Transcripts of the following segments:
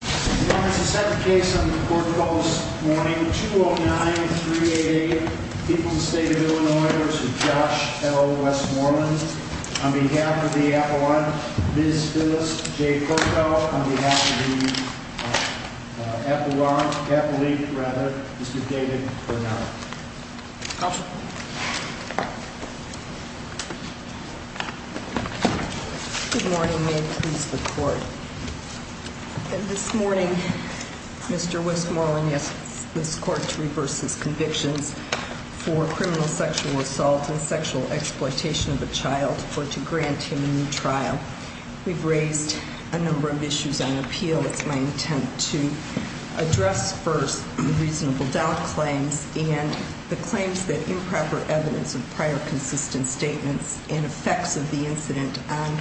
This is the second case on the Court Call this morning, 209-388, People's State of Illinois v. Josh L. Westmorland. On behalf of the Appellant, Ms. Phyllis J. Corkow. On behalf of the Appellate, Mr. David Burnett. Counsel. Good morning. May it please the Court. This morning, Mr. Westmoreland asks this Court to reverse his convictions for criminal sexual assault and sexual exploitation of a child or to grant him a new trial. We've raised a number of issues on appeal. It's my intent to address first the reasonable doubt claims and the claims that improper evidence of prior consistent statements and effects of the incident on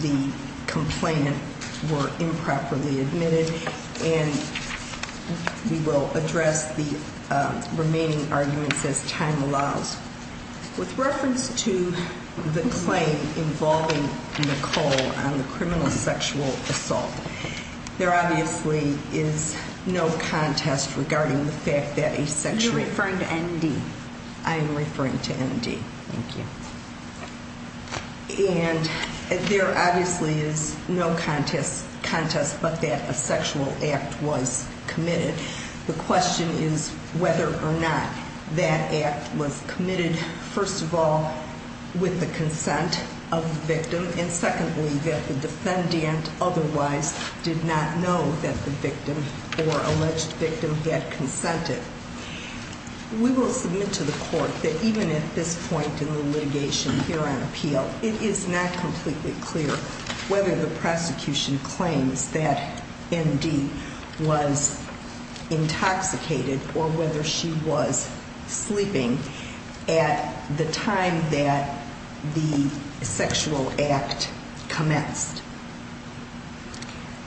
the complainant were improperly admitted and we will address the remaining arguments as time allows. With reference to the claim involving Nicole on the criminal sexual assault, there obviously is no contest regarding the fact that a sexual... You're referring to N.D. I am referring to N.D. Thank you. And there obviously is no contest but that a sexual act was committed. The question is whether or not that act was committed, first of all, with the consent of the victim and secondly, that the defendant otherwise did not know that the victim or alleged victim had consented. We will submit to the Court that even at this point in the litigation here on appeal, it is not completely clear whether the prosecution claims that N.D. was intoxicated or whether she was sleeping at the time that the sexual act commenced.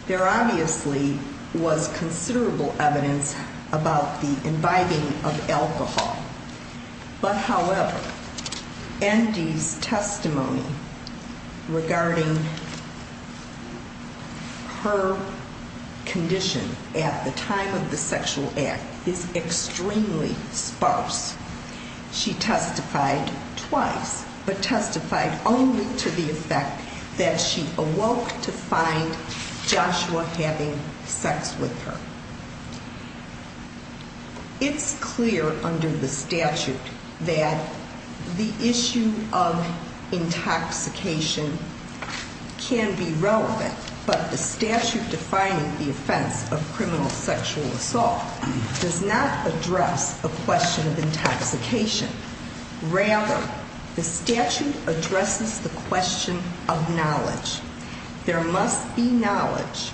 There obviously was considerable evidence about the imbibing of alcohol but however, N.D.'s testimony regarding her condition at the time of the sexual act is extremely sparse. She testified twice but testified only to the effect that she awoke to find Joshua having sex with her. It's clear under the statute that the issue of intoxication can be relevant but the statute defining the offense of criminal sexual assault does not address the question of intoxication. Rather, the statute addresses the question of knowledge. There must be knowledge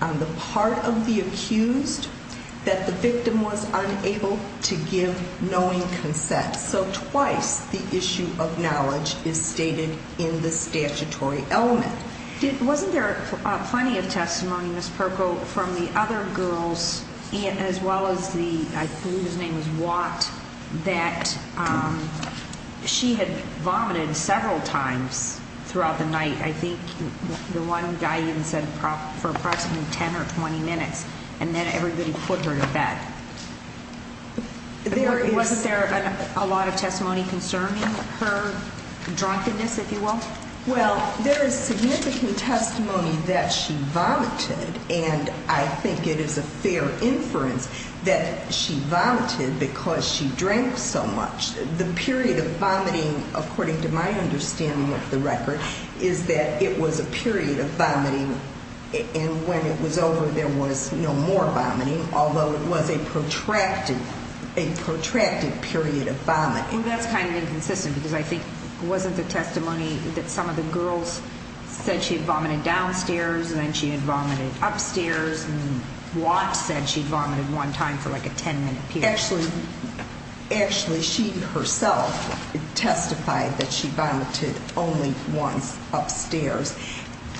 on the part of the accused that the victim was unable to give knowing consent. So twice the issue of knowledge is stated in the statutory element. Wasn't there plenty of testimony, Ms. Perko, from the other girls as well as the, I believe his name was Watt, that she had vomited several times throughout the night? I think the one guy even said for approximately 10 or 20 minutes and then everybody put her to bed. Wasn't there a lot of testimony concerning her drunkenness, if you will? Well, there is significant testimony that she vomited and I think it is a fair inference that she vomited because she drank so much. The period of vomiting, according to my understanding of the record, is that it was a period of vomiting and when it was over there was no more vomiting, although it was a protracted period of vomiting. Well, that's kind of inconsistent because I think it wasn't the testimony that some of the girls said she vomited downstairs and then she vomited upstairs and Watt said she vomited one time for like a 10 minute period. Actually, she herself testified that she vomited only once upstairs.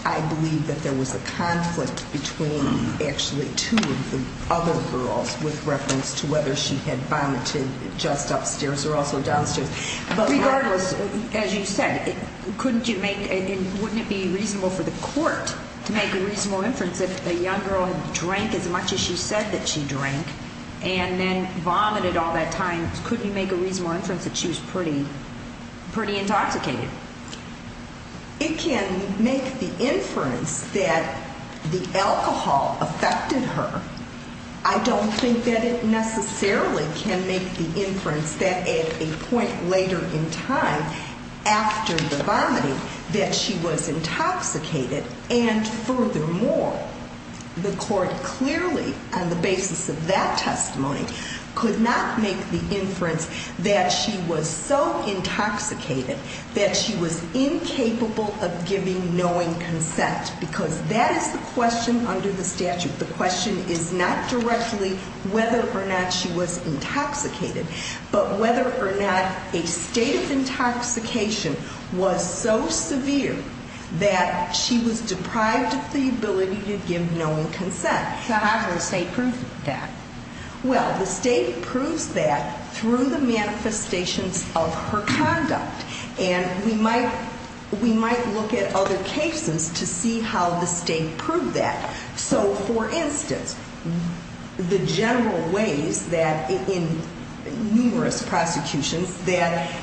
I believe that there was a conflict between actually two of the other girls with reference to whether she had vomited just upstairs or also downstairs. But regardless, as you said, couldn't you make, wouldn't it be reasonable for the court to make a reasonable inference that the young girl drank as much as she said that she drank and then vomited all that time? Couldn't you make a reasonable inference that she was pretty intoxicated? It can make the inference that the alcohol affected her. I don't think that it necessarily can make the inference that at a point later in time after the vomiting that she was intoxicated. And furthermore, the court clearly on the basis of that testimony could not make the inference that she was so intoxicated that she was incapable of giving knowing consent because that is the question under the statute. The question is not directly whether or not she was intoxicated, but whether or not a state of intoxication was so severe that she was deprived of the ability to give knowing consent. So how can the state prove that? Well, the state proves that through the manifestations of her conduct and we might look at other cases to see how the state proved that. So for instance, the general ways that in numerous prosecutions that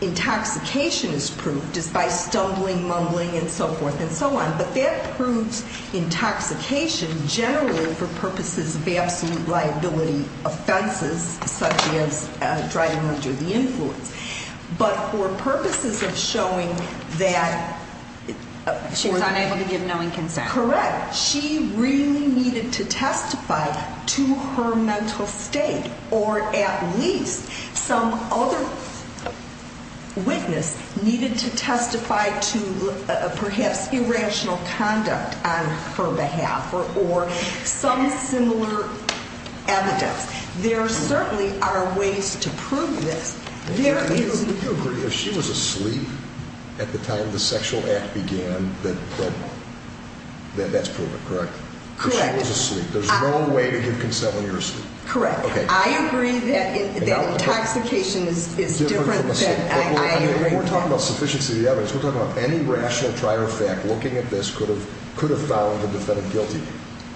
intoxication is proved is by stumbling, mumbling and so forth and so on. But that proves intoxication generally for purposes of absolute liability offenses such as driving under the influence. But for purposes of showing that she's unable to give knowing consent. Correct. She really needed to testify to her mental state or at least some other witness needed to testify to perhaps irrational conduct on her behalf or some similar evidence. There certainly are ways to prove this. Do you agree if she was asleep at the time the sexual act began that that's proven, correct? Correct. If she was asleep. There's no way to give consent when you're asleep. Correct. I agree that intoxication is different. We're talking about sufficiency of the evidence. We're talking about any rational prior fact looking at this could have found the defendant guilty.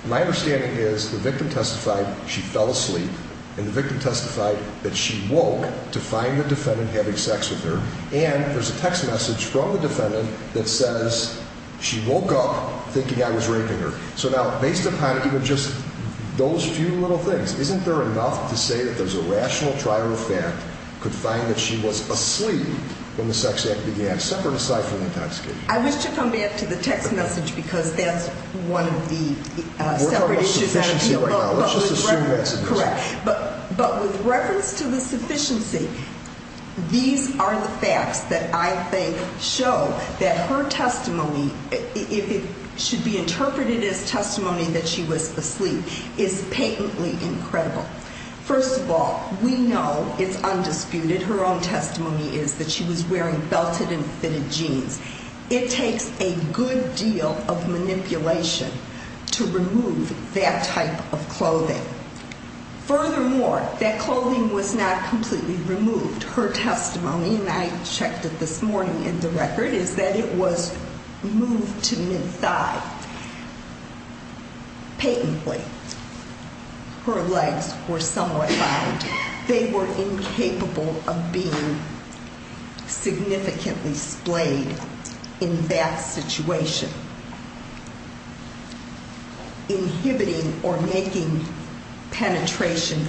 My understanding is the victim testified she fell asleep and the victim testified that she woke to find the defendant having sex with her. And there's a text message from the defendant that says she woke up thinking I was raping her. So now based upon even just those few little things, isn't there enough to say that there's a rational prior fact could find that she was asleep when the sex act began separate aside from intoxication? I wish to come back to the text message because that's one of the separate issues. But with reference to the sufficiency, these are the facts that I think show that her testimony, if it should be interpreted as testimony that she was asleep, is patently incredible. First of all, we know it's undisputed. Her own testimony is that she was wearing belted and fitted jeans. It takes a good deal of manipulation to remove that type of clothing. Furthermore, that clothing was not completely removed. Her testimony, and I checked it this morning in the record, is that it was moved to mid-thigh patently. Her legs were somewhat bound. They were incapable of being significantly splayed in that situation, inhibiting or making penetration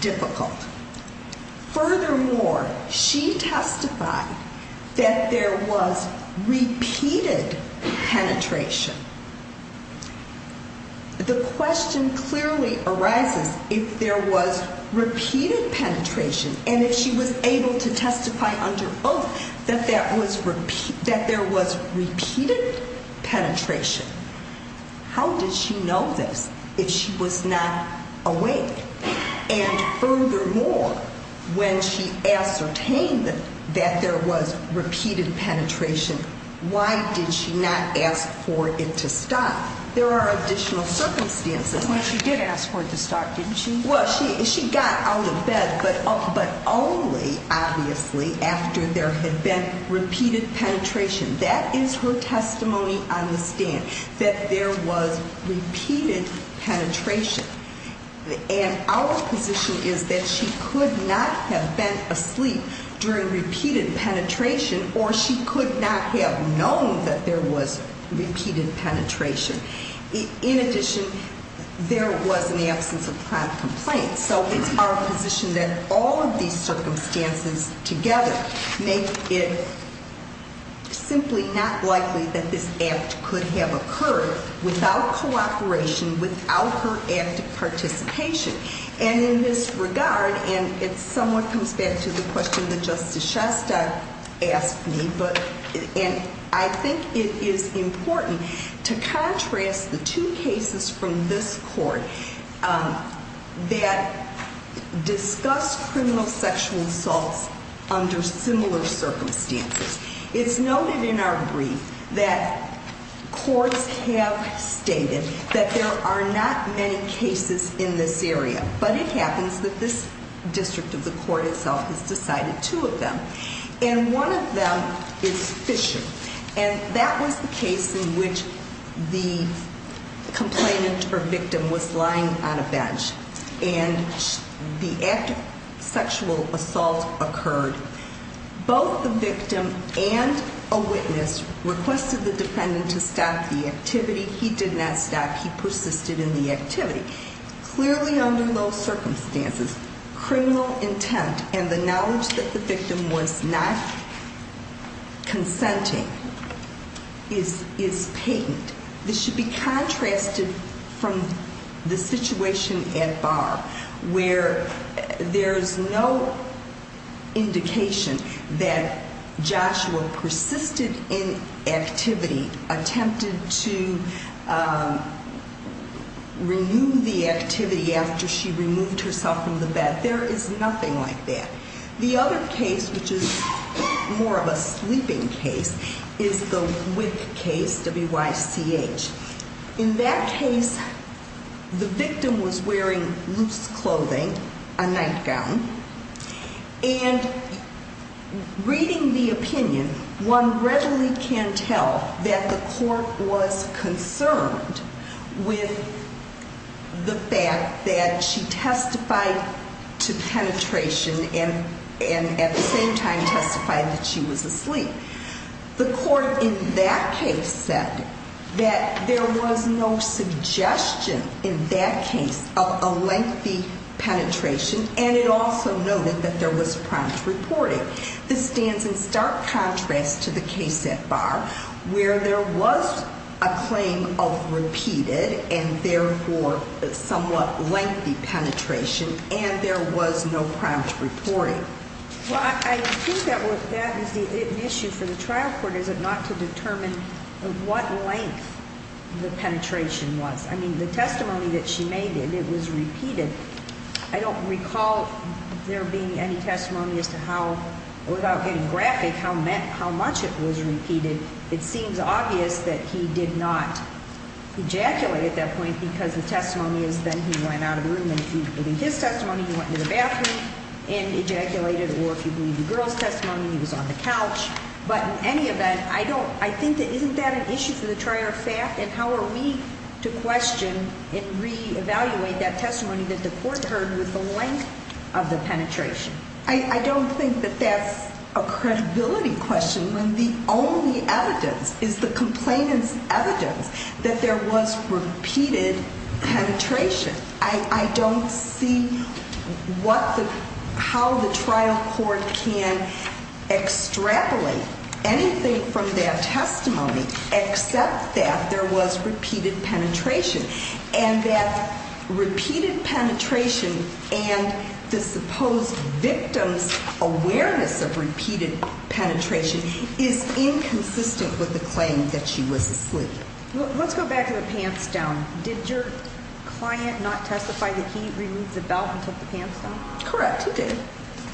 difficult. Furthermore, she testified that there was repeated penetration. The question clearly arises if there was repeated penetration and if she was able to testify under oath that there was repeated penetration. How did she know this if she was not awake? And furthermore, when she ascertained that there was repeated penetration, why did she not ask for it to stop? There are additional circumstances. Well, she did ask for it to stop, didn't she? Well, she got out of bed, but only, obviously, after there had been repeated penetration. That is her testimony on the stand, that there was repeated penetration. And our position is that she could not have been asleep during repeated penetration or she could not have known that there was repeated penetration. In addition, there was an absence of crime complaint. So it's our position that all of these circumstances together make it simply not likely that this act could have occurred without cooperation, without her active participation. And in this regard, and it somewhat comes back to the question that Justice Shasta asked me, and I think it is important to contrast the two cases from this court that discuss criminal sexual assaults under similar circumstances. It's noted in our brief that courts have stated that there are not many cases in this area. But it happens that this district of the court itself has decided two of them. And one of them is Fisher. And that was the case in which the complainant or victim was lying on a bench and the sexual assault occurred. Both the victim and a witness requested the defendant to stop the activity. He did not stop. He persisted in the activity. Clearly, under those circumstances, criminal intent and the knowledge that the victim was not consenting is patent. This should be contrasted from the situation at bar where there's no indication that Joshua persisted in activity, attempted to renew the activity after she removed herself from the bed. There is nothing like that. The other case, which is more of a sleeping case, is the Wick case, W-Y-C-H. In that case, the victim was wearing loose clothing, a nightgown. And reading the opinion, one readily can tell that the court was concerned with the fact that she testified to penetration and at the same time testified that she was asleep. The court in that case said that there was no suggestion in that case of a lengthy penetration and it also noted that there was prompt reporting. This stands in stark contrast to the case at bar where there was a claim of repeated and therefore somewhat lengthy penetration and there was no prompt reporting. Well, I think that is the issue for the trial court, is it not, to determine what length the penetration was. I mean, the testimony that she made, it was repeated. I don't recall there being any testimony as to how, without getting graphic, how much it was repeated. It seems obvious that he did not ejaculate at that point because the testimony is that he went out of the room and if you believe his testimony, he went to the bathroom and ejaculated. Or if you believe the girl's testimony, he was on the couch. But in any event, I think that isn't that an issue for the trial? And how are we to question and reevaluate that testimony that the court heard with the length of the penetration? I don't think that that's a credibility question when the only evidence is the complainant's evidence that there was repeated penetration. I don't see how the trial court can extrapolate anything from that testimony except that there was repeated penetration. And that repeated penetration and the supposed victim's awareness of repeated penetration is inconsistent with the claim that she was asleep. Let's go back to the pants down. Did your client not testify that he removed the belt and took the pants down? Correct. He did.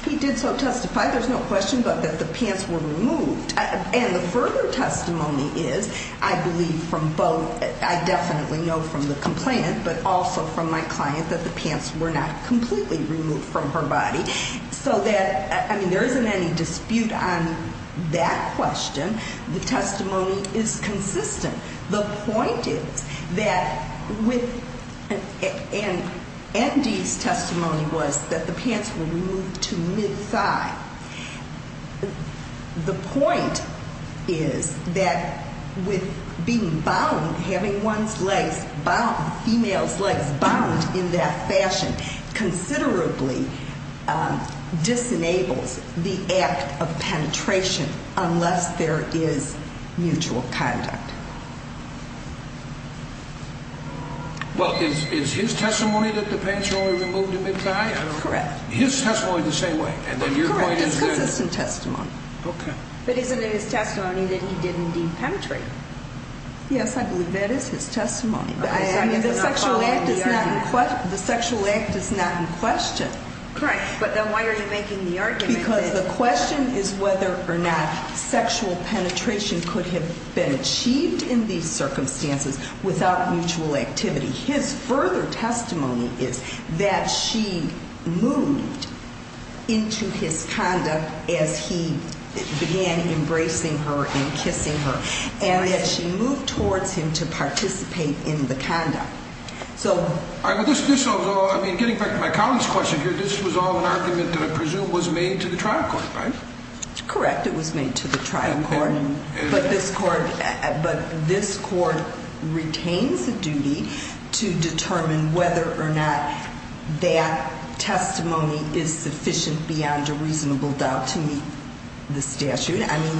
He did so testify. There's no question about that the pants were removed. And the further testimony is, I believe from both, I definitely know from the complainant but also from my client that the pants were not completely removed from her body. So that, I mean, there isn't any dispute on that question. The testimony is consistent. The point is that with, and Andy's testimony was that the pants were removed to mid-thigh. The point is that with being bound, having one's legs bound, female's legs bound in that fashion considerably disenables the act of penetration unless there is mutual conduct. Well, is his testimony that the pants were removed to mid-thigh? Correct. His testimony the same way? Correct. It's consistent testimony. Okay. But isn't it his testimony that he did indeed penetrate? Yes, I believe that is his testimony. The sexual act is not in question. Correct. But then why are you making the argument that? Because the question is whether or not sexual penetration could have been achieved in these circumstances without mutual activity. His further testimony is that she moved into his conduct as he began embracing her and kissing her. And that she moved towards him to participate in the conduct. So. All right, but this, I mean, getting back to my colleague's question here, this was all an argument that I presume was made to the trial court, right? Correct. It was made to the trial court. Okay. But this court retains the duty to determine whether or not that testimony is sufficient beyond a reasonable doubt to meet the statute. I mean.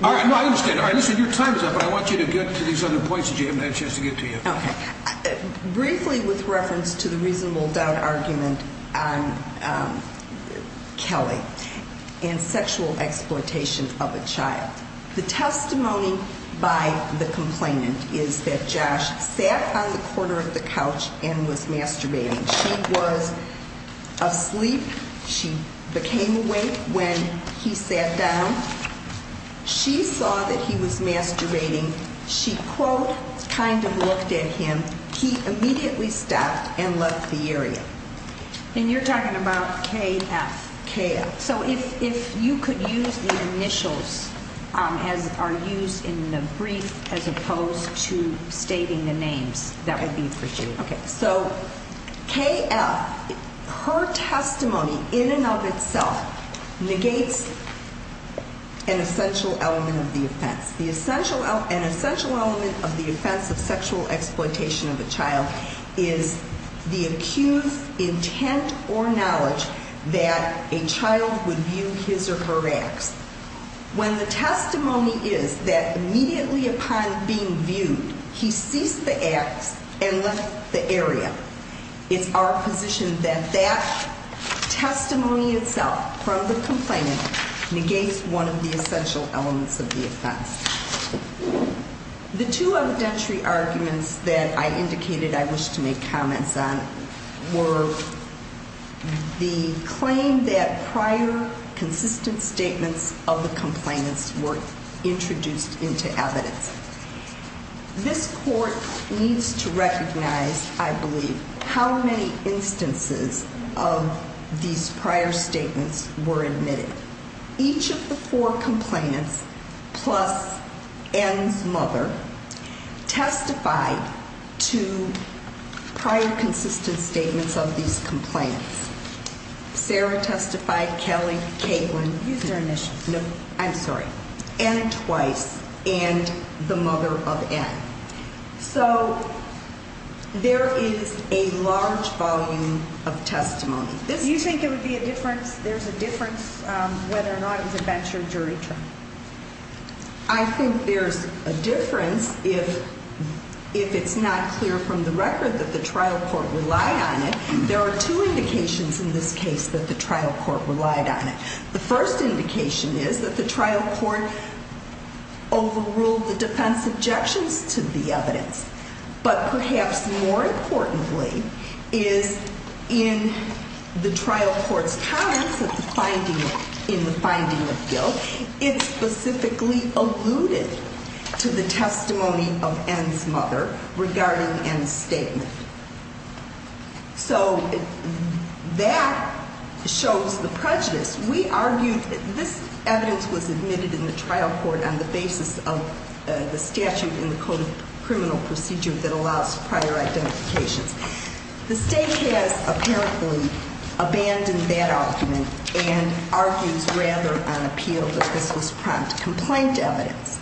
No, I understand. All right, listen, your time is up, but I want you to get to these other points that you haven't had a chance to get to yet. Okay. Briefly with reference to the reasonable doubt argument on Kelly and sexual exploitation of a child. The testimony by the complainant is that Josh sat on the corner of the couch and was masturbating. She was asleep. She became awake when he sat down. She saw that he was masturbating. She, quote, kind of looked at him. He immediately stopped and left the area. And you're talking about KF. KF. So if you could use the initials as are used in the brief as opposed to stating the names, that would be for you. Okay. So KF, her testimony in and of itself negates an essential element of the offense. An essential element of the offense of sexual exploitation of a child is the accused's intent or knowledge that a child would view his or her acts. When the testimony is that immediately upon being viewed, he ceased the acts and left the area, it's our position that that testimony itself from the complainant negates one of the essential elements of the offense. The two evidentiary arguments that I indicated I wish to make comments on were the claim that prior consistent statements of the complainants were introduced into evidence. This court needs to recognize, I believe, how many instances of these prior statements were admitted. Each of the four complainants plus N's mother testified to prior consistent statements of these complainants. Sarah testified, Kelly, Caitlin. Use their initials. No. I'm sorry. N twice and the mother of N. So there is a large volume of testimony. You think it would be a difference? There's a difference whether or not it was a bench or jury trial. I think there's a difference if it's not clear from the record that the trial court relied on it. There are two indications in this case that the trial court relied on it. The first indication is that the trial court overruled the defense objections to the evidence. But perhaps more importantly, is in the trial court's comments in the finding of guilt, it specifically alluded to the testimony of N's mother regarding N's statement. So that shows the prejudice. We argued that this evidence was admitted in the trial court on the basis of the statute in the Code of Criminal Procedure that allows prior identifications. The state has apparently abandoned that argument and argues rather on appeal that this was prompt complaint evidence.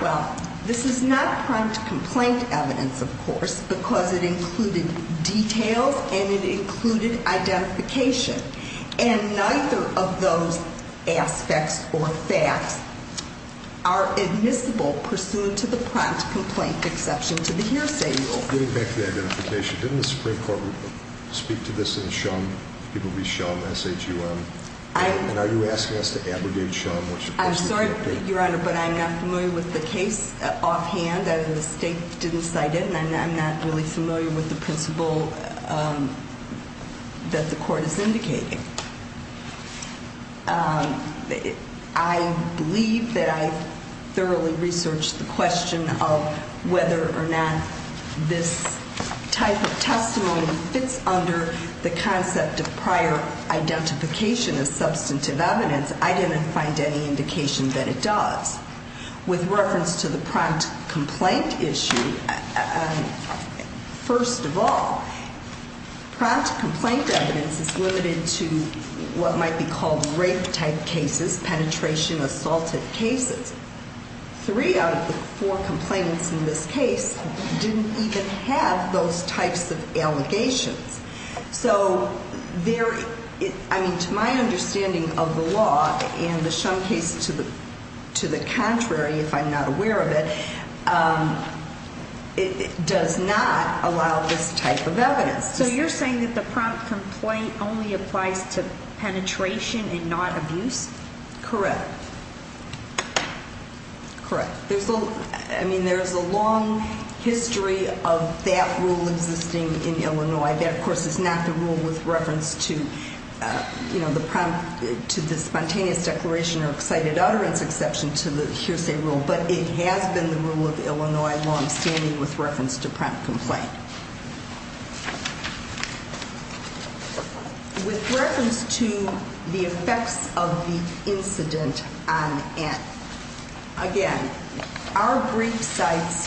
Well, this is not prompt complaint evidence, of course, because it included details and it included identification. And neither of those aspects or facts are admissible pursuant to the prompt complaint exception to the hearsay rule. Getting back to the identification, didn't the Supreme Court speak to this in Shum? People read Shum, S-H-U-M. And are you asking us to abrogate Shum? I'm sorry, Your Honor, but I'm not familiar with the case offhand. The state didn't cite it, and I'm not really familiar with the principle that the court is indicating. I believe that I thoroughly researched the question of whether or not this type of testimony fits under the concept of prior identification of substantive evidence. I didn't find any indication that it does. With reference to the prompt complaint issue, first of all, prompt complaint evidence is limited to what might be called rape-type cases, penetration-assaulted cases. Three out of the four complainants in this case didn't even have those types of allegations. So to my understanding of the law and the Shum case to the contrary, if I'm not aware of it, it does not allow this type of evidence. So you're saying that the prompt complaint only applies to penetration and not abuse? Correct. Correct. I mean, there's a long history of that rule existing in Illinois. That, of course, is not the rule with reference to the spontaneous declaration or cited utterance exception to the hearsay rule, but it has been the rule of Illinois longstanding with reference to prompt complaint. With reference to the effects of the incident on Ann, again, our brief cites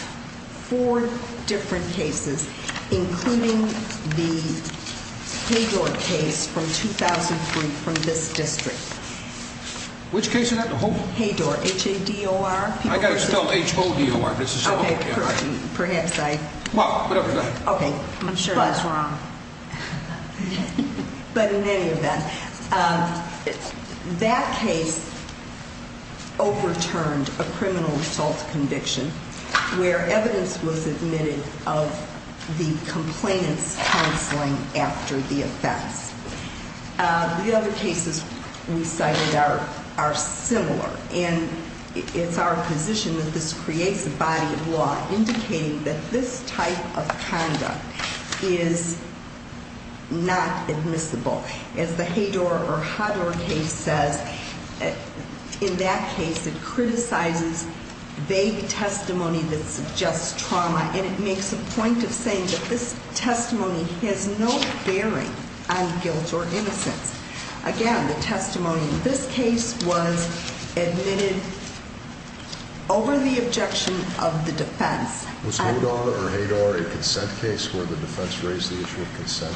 four different cases, including the Haydor case from 2003 from this district. Which case is that? Haydor, H-A-D-O-R. I got it spelled H-O-D-O-R. Okay. I'm sure that's wrong. But in any event, that case overturned a criminal assault conviction where evidence was admitted of the complainant's counseling after the offense. The other cases we cited are similar, and it's our position that this creates a body of law indicating that this type of conduct is not admissible. As the Haydor or H-A-D-O-R case says, in that case it criticizes vague testimony that suggests trauma, and it makes a point of saying that this testimony has no bearing on guilt or innocence. Again, the testimony in this case was admitted over the objection of the defense. Was H-O-D-O-R or H-A-D-O-R a consent case where the defense raised the issue of consent?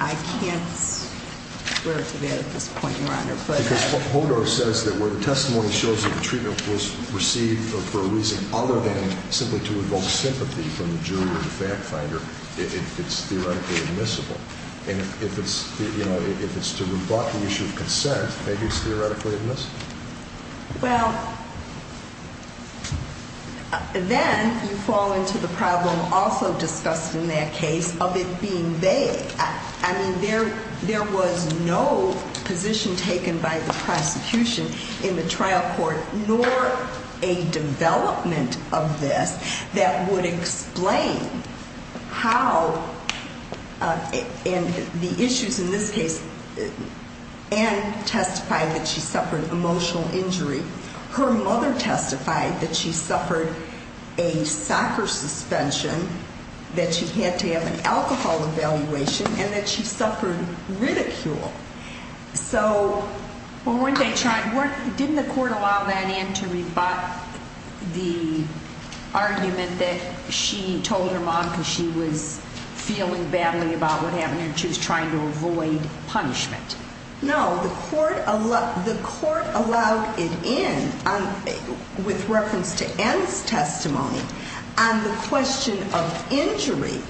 I can't swear to that at this point, Your Honor. Because H-O-D-O-R says that where the testimony shows that the treatment was received for a reason other than simply to evoke sympathy from the jury or the fact finder, it's theoretically admissible. And if it's to rebut the issue of consent, maybe it's theoretically admissible. Well, then you fall into the problem also discussed in that case of it being vague. I mean, there was no position taken by the prosecution in the trial court, nor a development of this that would explain how, and the issues in this case, Ann testified that she suffered emotional injury. Her mother testified that she suffered a soccer suspension, that she had to have an alcohol evaluation, and that she suffered ridicule. So, didn't the court allow that in to rebut the argument that she told her mom because she was feeling badly about what happened and she was trying to avoid punishment? No, the court allowed it in with reference to Ann's testimony on the question of injury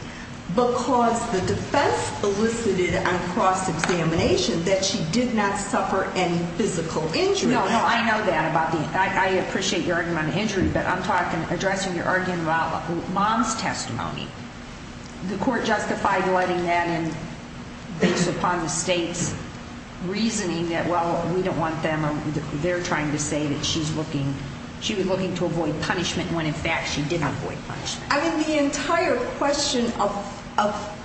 because the defense elicited on cross-examination that she did not suffer any physical injury. No, no, I know that about the, I appreciate your argument on the injury, but I'm talking, addressing your argument about mom's testimony. The court justified letting that in based upon the state's reasoning that, well, we don't want them, they're trying to say that she's looking, she was looking to avoid punishment when, in fact, she did avoid punishment. I mean, the entire question of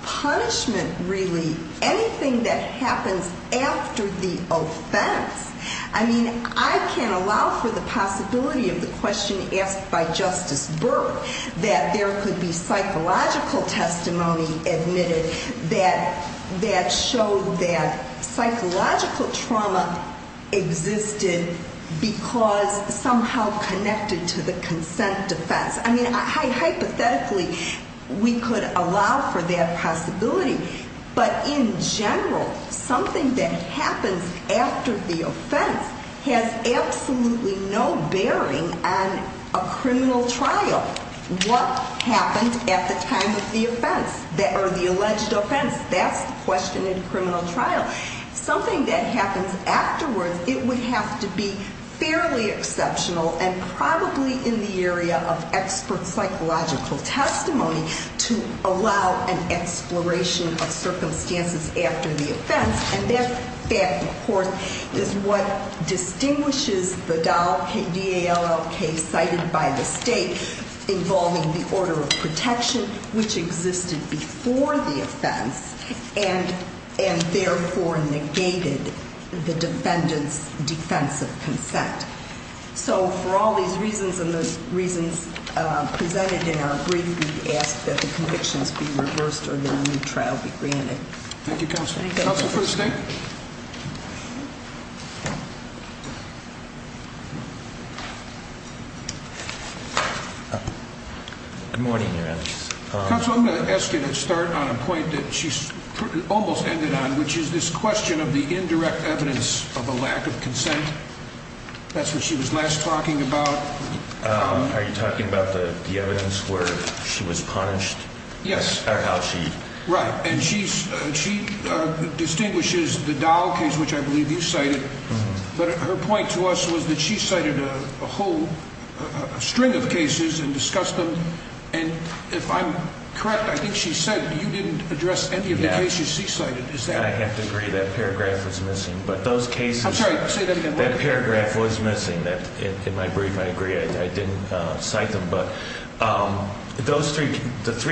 punishment, really, anything that happens after the offense, I mean, I can't allow for the possibility of the question asked by Justice Burke, that there could be psychological testimony admitted that showed that psychological trauma existed because somehow connected to the consent defense. I mean, hypothetically, we could allow for that possibility, but in general, something that happens after the offense has absolutely no bearing on a criminal trial. What happened at the time of the offense, or the alleged offense, that's the question in a criminal trial. Something that happens afterwards, it would have to be fairly exceptional and probably in the area of expert psychological testimony to allow an exploration of circumstances after the offense. And that, of course, is what distinguishes the DALL case cited by the state involving the order of protection, which existed before the offense and therefore negated the defendant's defense of consent. So for all these reasons and the reasons presented in our brief, we ask that the convictions be reversed or that a new trial be granted. Thank you. Thank you, Counsel. Counsel for the State? Good morning, Your Honor. Counsel, I'm going to ask you to start on a point that she almost ended on, which is this question of the indirect evidence of a lack of consent. That's what she was last talking about. Are you talking about the evidence where she was punished? Yes. Or how she... Right. And she distinguishes the DALL case, which I believe you cited. But her point to us was that she cited a whole string of cases and discussed them. And if I'm correct, I think she said you didn't address any of the cases she cited. I have to agree. That paragraph was missing. But those cases... I'm sorry. Say that again. That paragraph was missing. In my brief, I agree. I didn't cite them. But those three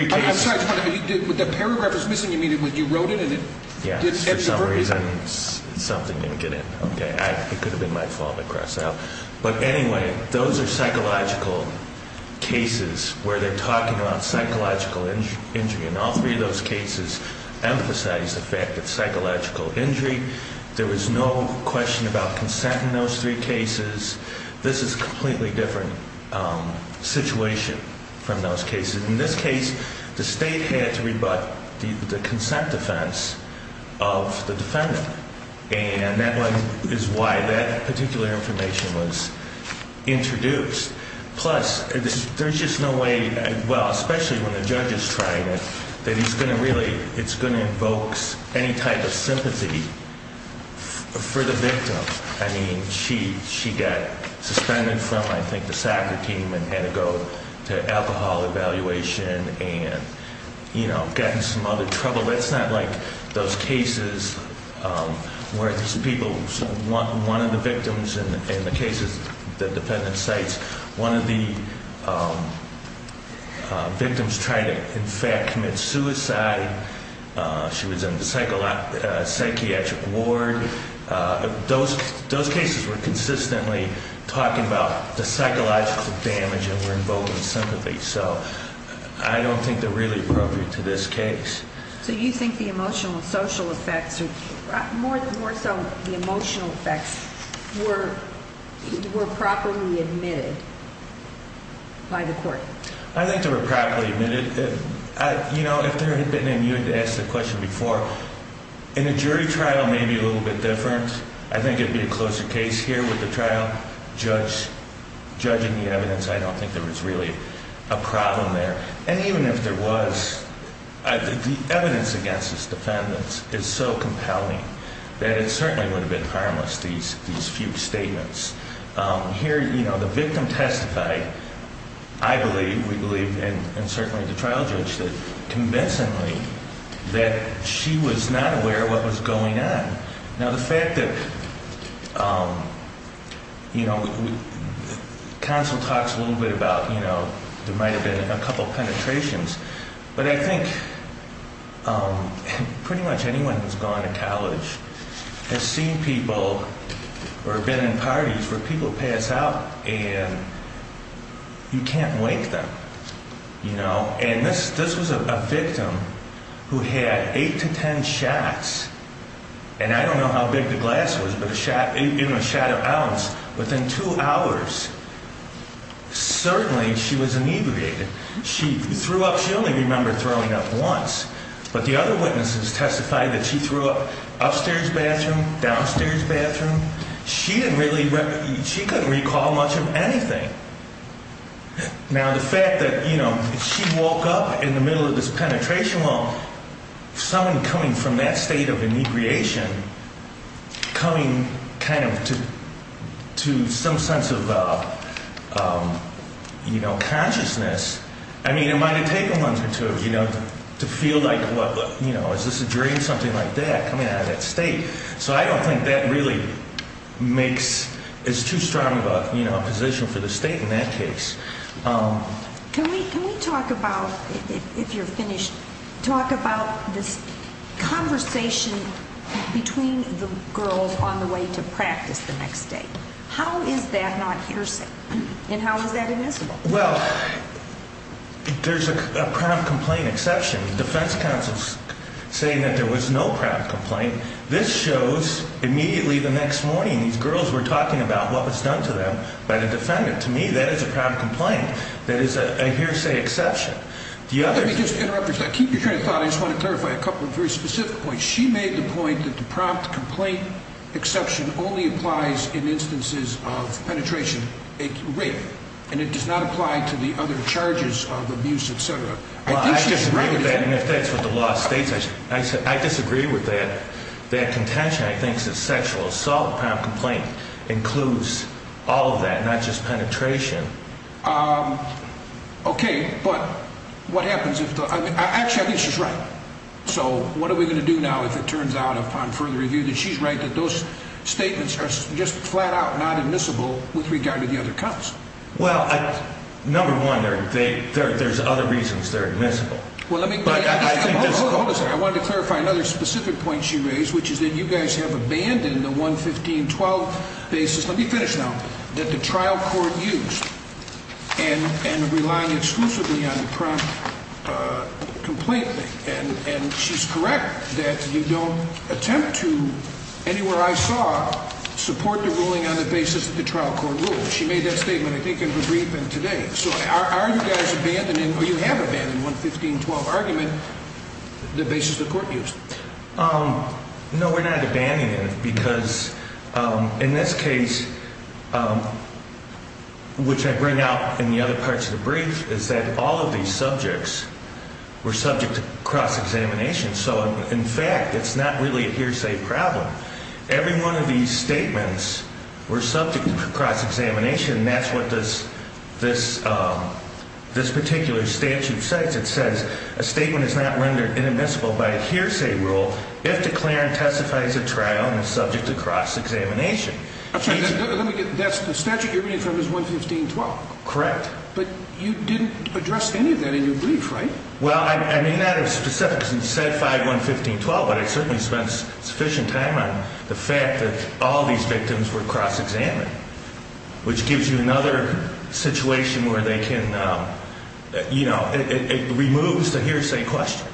cases... I'm sorry. The paragraph was missing. You wrote it. Yes. For some reason, something didn't get in. Okay. It could have been my fault. I cross out. But anyway, those are psychological cases where they're talking about psychological injury. And all three of those cases emphasize the fact that psychological injury, there was no question about consent in those three cases. This is a completely different situation from those cases. In this case, the State had to rebut the consent defense of the defendant. And that is why that particular information was introduced. Plus, there's just no way... Well, especially when the judge is trying it, that he's going to really... It's going to invoke any type of sympathy for the victim. I mean, she got suspended from, I think, the soccer team and had to go to alcohol evaluation and, you know, gotten some other trouble. It's not like those cases where these people... One of the victims in the cases the defendant cites, one of the victims tried to, in fact, commit suicide. She was in the psychiatric ward. Those cases were consistently talking about the psychological damage and were invoking sympathy. So I don't think they're really appropriate to this case. So you think the emotional and social effects, more so the emotional effects, were properly admitted by the court? I think they were properly admitted. You know, if there had been a... You had asked the question before. In a jury trial, maybe a little bit different. I think it would be a closer case here with the trial. Judging the evidence, I don't think there was really a problem there. And even if there was, the evidence against this defendant is so compelling that it certainly would have been harmless, these few statements. Here, you know, the victim testified, I believe, we believe, and certainly the trial judge did, convincingly that she was not aware of what was going on. Now, the fact that, you know, counsel talks a little bit about, you know, there might have been a couple penetrations. But I think pretty much anyone who's gone to college has seen people or been in parties where people pass out and you can't wake them, you know. And this was a victim who had eight to ten shots. And I don't know how big the glass was, but a shot, even a shot of ounce, within two hours, certainly she was inebriated. She threw up, she only remembered throwing up once. But the other witnesses testified that she threw up upstairs bathroom, downstairs bathroom. She didn't really, she couldn't recall much of anything. Now, the fact that, you know, she woke up in the middle of this penetration, well, someone coming from that state of inebriation, coming kind of to some sense of, you know, consciousness. I mean, it might have taken months or two, you know, to feel like, you know, is this a dream, something like that, coming out of that state. So I don't think that really makes, is too strong of a, you know, position for the state in that case. Can we talk about, if you're finished, talk about this conversation between the girls on the way to practice the next day. How is that not hearsay and how is that admissible? Well, there's a prompt complaint exception. The defense counsel's saying that there was no prompt complaint. This shows immediately the next morning these girls were talking about what was done to them by the defendant. To me, that is a prompt complaint. That is a hearsay exception. Let me just interrupt you for a second. Keep your train of thought. I just want to clarify a couple of very specific points. She made the point that the prompt complaint exception only applies in instances of penetration rape. And it does not apply to the other charges of abuse, et cetera. Well, I disagree with that. And if that's what the law states, I disagree with that contention. I think the sexual assault prompt complaint includes all of that, not just penetration. Okay. But what happens if the – actually, I think she's right. So what are we going to do now if it turns out upon further review that she's right, that those statements are just flat out not admissible with regard to the other counts? Well, number one, there's other reasons they're admissible. Well, let me – hold on a second. I wanted to clarify another specific point she raised, which is that you guys have abandoned the 115-12 basis – let me finish now – that the trial court used and are relying exclusively on the prompt complaint thing. And she's correct that you don't attempt to, anywhere I saw, support the ruling on the basis that the trial court ruled. She made that statement, I think, in her brief and today. So are you guys abandoning – or you have abandoned the 115-12 argument, the basis the court used? No, we're not abandoning it because, in this case, which I bring out in the other parts of the brief, is that all of these subjects were subject to cross-examination. So, in fact, it's not really a hearsay problem. Every one of these statements were subject to cross-examination, and that's what this particular statute says. It says a statement is not rendered inadmissible by a hearsay rule if declared and testified as a trial and is subject to cross-examination. Let me get – the statute you're reading from is 115-12? Correct. But you didn't address any of that in your brief, right? Well, I may not have specified 115-12, but I certainly spent sufficient time on the fact that all these victims were cross-examined, which gives you another situation where they can – you know, it removes the hearsay question.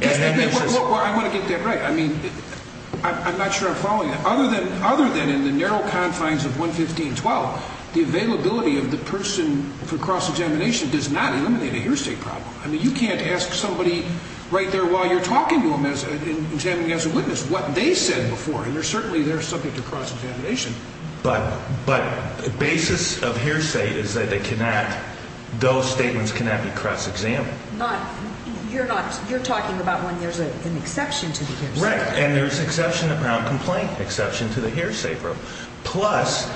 Well, I want to get that right. I mean, I'm not sure I'm following that. Other than in the narrow confines of 115-12, the availability of the person for cross-examination does not eliminate a hearsay problem. I mean, you can't ask somebody right there while you're talking to them, examining as a witness, what they said before, and certainly they're subject to cross-examination. But the basis of hearsay is that they cannot – those statements cannot be cross-examined. Not – you're not – you're talking about when there's an exception to the hearsay rule. Right, and there's an exception around complaint exception to the hearsay rule. Plus,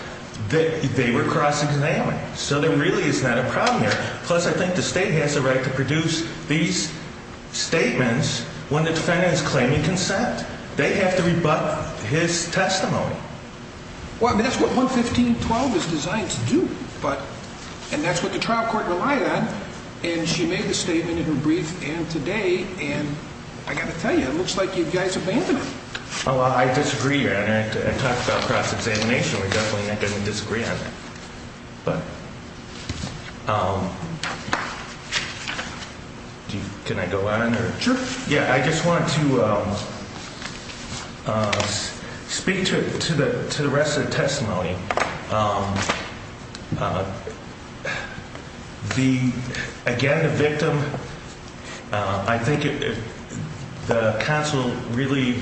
they were cross-examined, so there really is not a problem there. Plus, I think the state has the right to produce these statements when the defendant is claiming consent. They have to rebut his testimony. Well, I mean, that's what 115-12 is designed to do. But – and that's what the trial court relied on, and she made the statement in her brief and today, and I got to tell you, it looks like you guys abandoned it. Oh, well, I disagree on it. I talked about cross-examination. We're definitely not going to disagree on it. But – can I go on? Sure. Yeah, I just wanted to speak to the rest of the testimony. The – again, the victim, I think the counsel really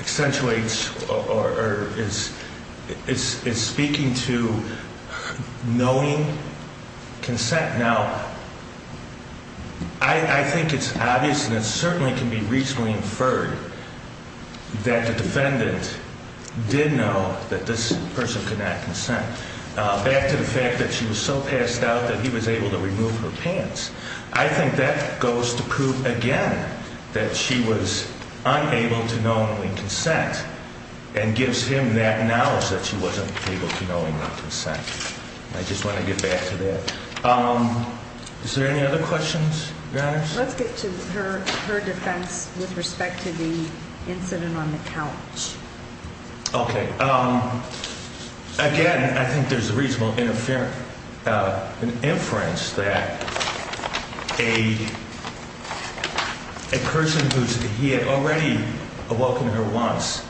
accentuates or is speaking to knowing consent. Now, I think it's obvious and it certainly can be reasonably inferred that the defendant did know that this person could not consent. Back to the fact that she was so passed out that he was able to remove her pants, I think that goes to prove again that she was unable to know and consent and gives him that knowledge that she wasn't able to know and not consent. I just want to get back to that. Is there any other questions, Your Honors? Let's get to her defense with respect to the incident on the couch. Okay. Again, I think there's a reasonable inference that a person who's – he had already awoken her once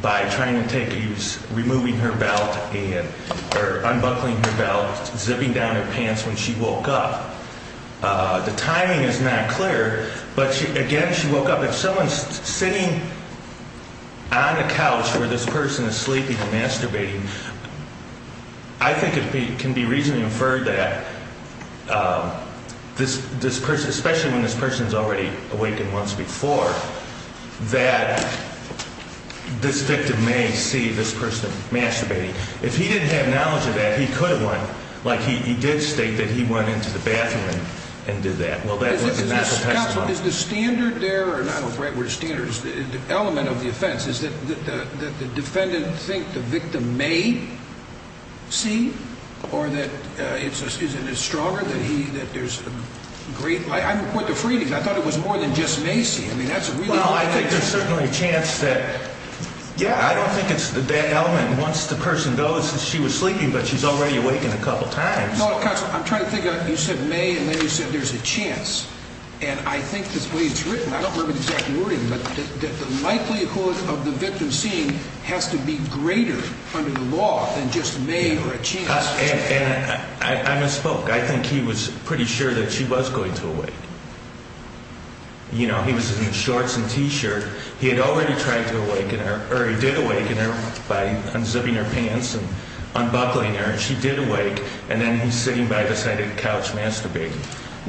by trying to take – he was removing her belt and – or unbuckling her belt, zipping down her pants when she woke up. The timing is not clear, but again, she woke up. If someone's sitting on a couch where this person is sleeping and masturbating, I think it can be reasonably inferred that this person, especially when this person's already awakened once before, that this victim may see this person masturbating. If he didn't have knowledge of that, he could have went – like he did state that he went into the bathroom and did that. Well, that was a natural testimony. Counsel, is the standard there – or I don't know if the right word is standard – the element of the offense, is that the defendant think the victim may see or that it's – is it stronger that he – that there's a great – I'm a point of freeing. I thought it was more than just may see. I mean, that's a really – Well, I think there's certainly a chance that – Yeah. I don't think it's that element. Once the person goes, she was sleeping, but she's already awakened a couple times. Counsel, I'm trying to think. You said may, and then you said there's a chance. And I think the way it's written, I don't remember the exact wording, but the likelihood of the victim seeing has to be greater under the law than just may or a chance. And I misspoke. I think he was pretty sure that she was going to awake. You know, he was in his shorts and T-shirt. He had already tried to awaken her – or he did awaken her by unzipping her pants and unbuckling her, and she did awake, and then he's sitting by the side of the couch masturbating.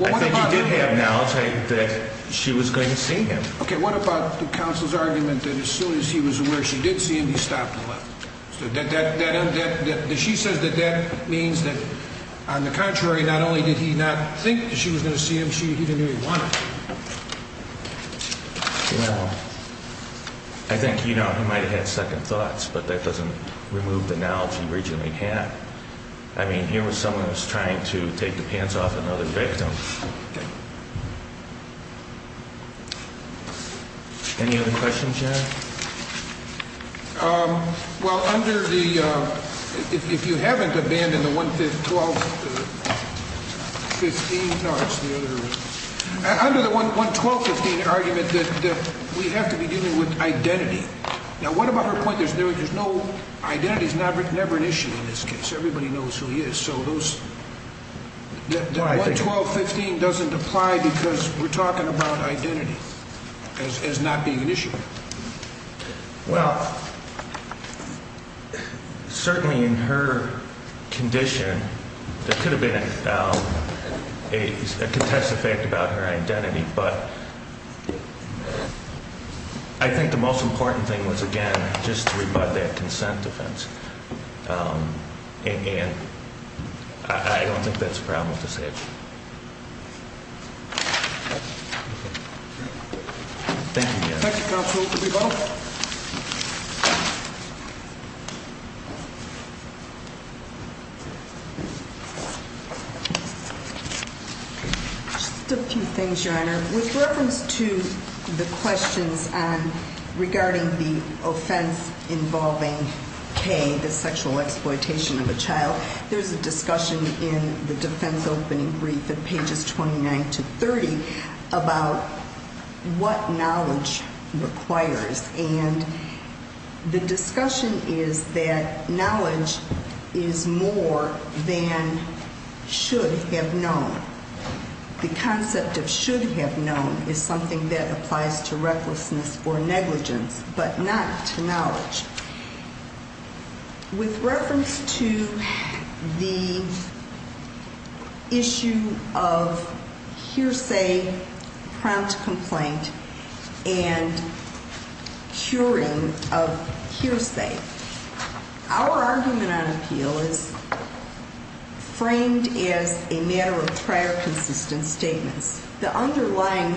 I think he did have knowledge that she was going to see him. Okay. What about the counsel's argument that as soon as he was aware she did see him, he stopped and left? So that – she says that that means that, on the contrary, not only did he not think that she was going to see him, she – he didn't even want to. You know, I think, you know, he might have had second thoughts, but that doesn't remove the knowledge he originally had. I mean, here was someone who was trying to take the pants off another victim. Okay. Any other questions yet? Well, under the – if you haven't abandoned the 1-12-15 – no, it's the other – under the 1-12-15 argument that we have to be dealing with identity. Now, what about her point that there's no – identity is never an issue in this case. Everybody knows who he is, so those – the 1-12-15 doesn't apply because we're talking about identity as not being an issue. Well, certainly in her condition, there could have been a contested fact about her identity, but I think the most important thing was, again, just to rebut that consent defense. And I don't think that's a problem to say. Thank you, Your Honor. Dr. Garza, will you rebut? Just a few things, Your Honor. With reference to the questions regarding the offense involving K, the sexual exploitation of a child, there's a discussion in the defense opening brief at pages 29 to 30 about what knowledge requires. And the discussion is that knowledge is more than should have known. The concept of should have known is something that applies to recklessness or negligence, but not to knowledge. With reference to the issue of hearsay, prompt complaint, and curing of hearsay, our argument on appeal is framed as a matter of prior consistent statements. The underlying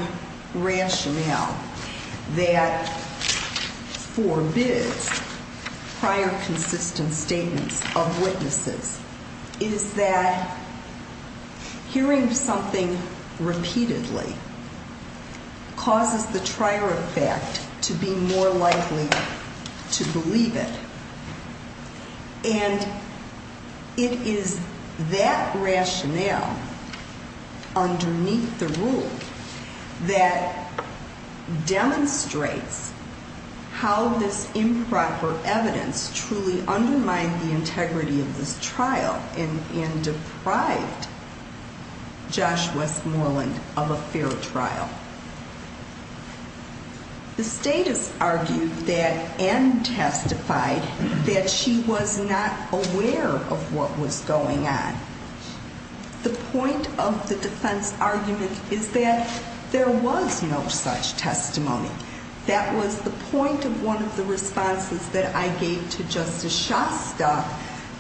rationale that forbids prior consistent statements of witnesses is that hearing something repeatedly causes the trier effect to be more likely to believe it. And it is that rationale underneath the rule that demonstrates how this improper evidence truly undermined the integrity of this trial and deprived Josh Westmoreland of a fair trial. The status argued that and testified that she was not aware of what was going on. The point of the defense argument is that there was no such testimony. That was the point of one of the responses that I gave to Justice Shasta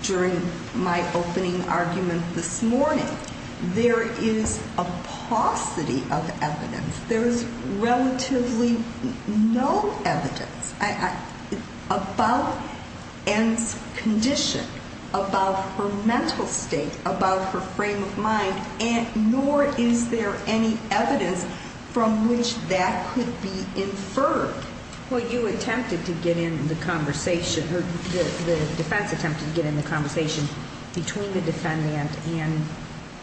during my opening argument this morning. There is a paucity of evidence. There is relatively no evidence about Ann's condition, about her mental state, about her frame of mind, nor is there any evidence from which that could be inferred. Well, you attempted to get in the conversation, or the defense attempted to get in the conversation between the defendant and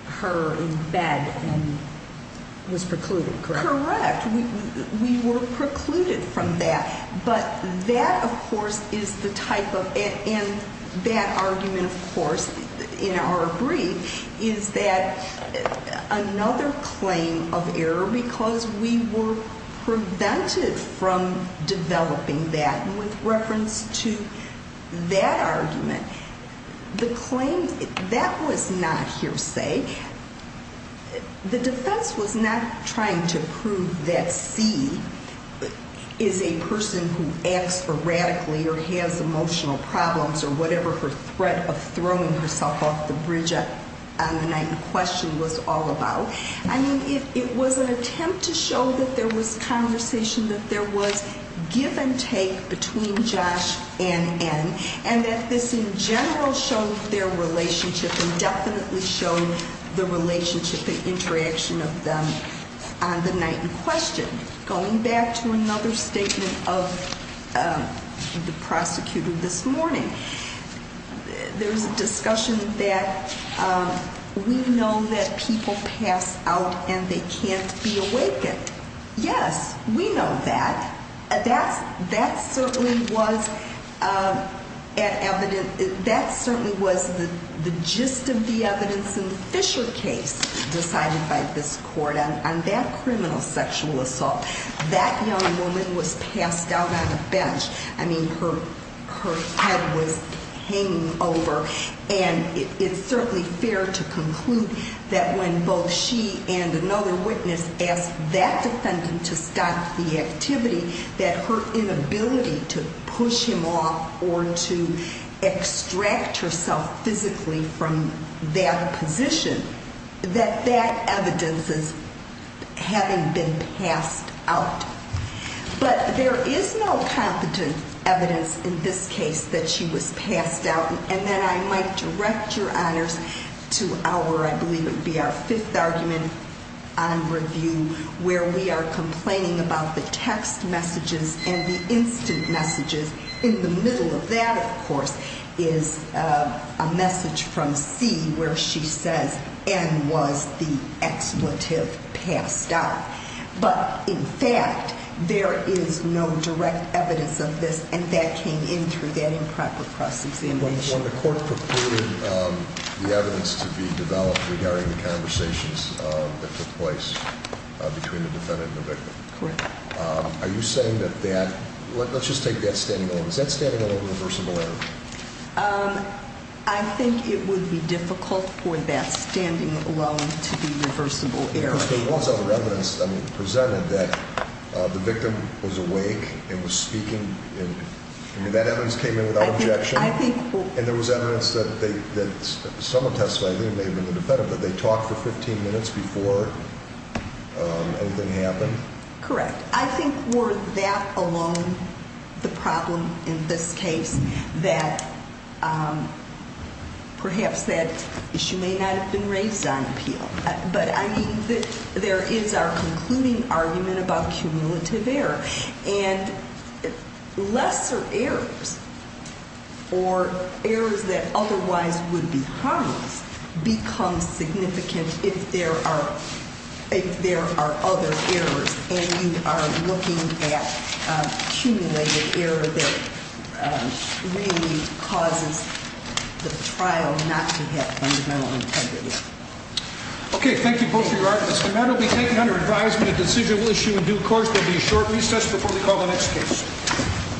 her in bed and was precluded, correct? Correct. We were precluded from that. But that, of course, is the type of, and that argument, of course, in our brief, is that another claim of error because we were prevented from developing that. And with reference to that argument, the claim, that was not hearsay. The defense was not trying to prove that C is a person who acts erratically or has emotional problems or whatever her threat of throwing herself off the bridge on the night in question was all about. I mean, it was an attempt to show that there was conversation, that there was give and take between Josh and Ann, and that this in general showed their relationship and definitely showed the relationship and interaction of them on the night in question. Going back to another statement of the prosecutor this morning, there's a discussion that we know that people pass out and they can't be awakened. Yes, we know that. That certainly was the gist of the evidence in the Fisher case decided by this court on that criminal sexual assault. That young woman was passed out on a bench. I mean, her head was hanging over, and it's certainly fair to conclude that when both she and another witness asked that defendant to stop the activity, that her inability to push him off or to extract herself physically from that position, that that evidence is having been passed out. But there is no competent evidence in this case that she was passed out. And then I might direct your honors to our, I believe it would be our fifth argument on review, where we are complaining about the text messages and the instant messages. In the middle of that, of course, is a message from C, where she says Ann was the expletive passed out. But in fact, there is no direct evidence of this, and that came in through that improper cross-examination. When the court purported the evidence to be developed regarding the conversations that took place between the defendant and the victim. Correct. Are you saying that that, let's just take that standing alone. Is that standing alone reversible error? I think it would be difficult for that standing alone to be reversible error. There was other evidence presented that the victim was awake and was speaking, and that evidence came in without objection. And there was evidence that someone testified, I think it may have been the defendant, that they talked for 15 minutes before anything happened. Correct. I think were that alone the problem in this case that perhaps that issue may not have been raised on appeal. But I mean, there is our concluding argument about cumulative error. And lesser errors or errors that otherwise would be harmless become significant if there are other errors. And you are looking at cumulative error that really causes the trial not to have fundamental integrity. Okay, thank you both for your arguments. And that will be taken under advisement of decisional issue in due course. There will be a short recess before we call the next case.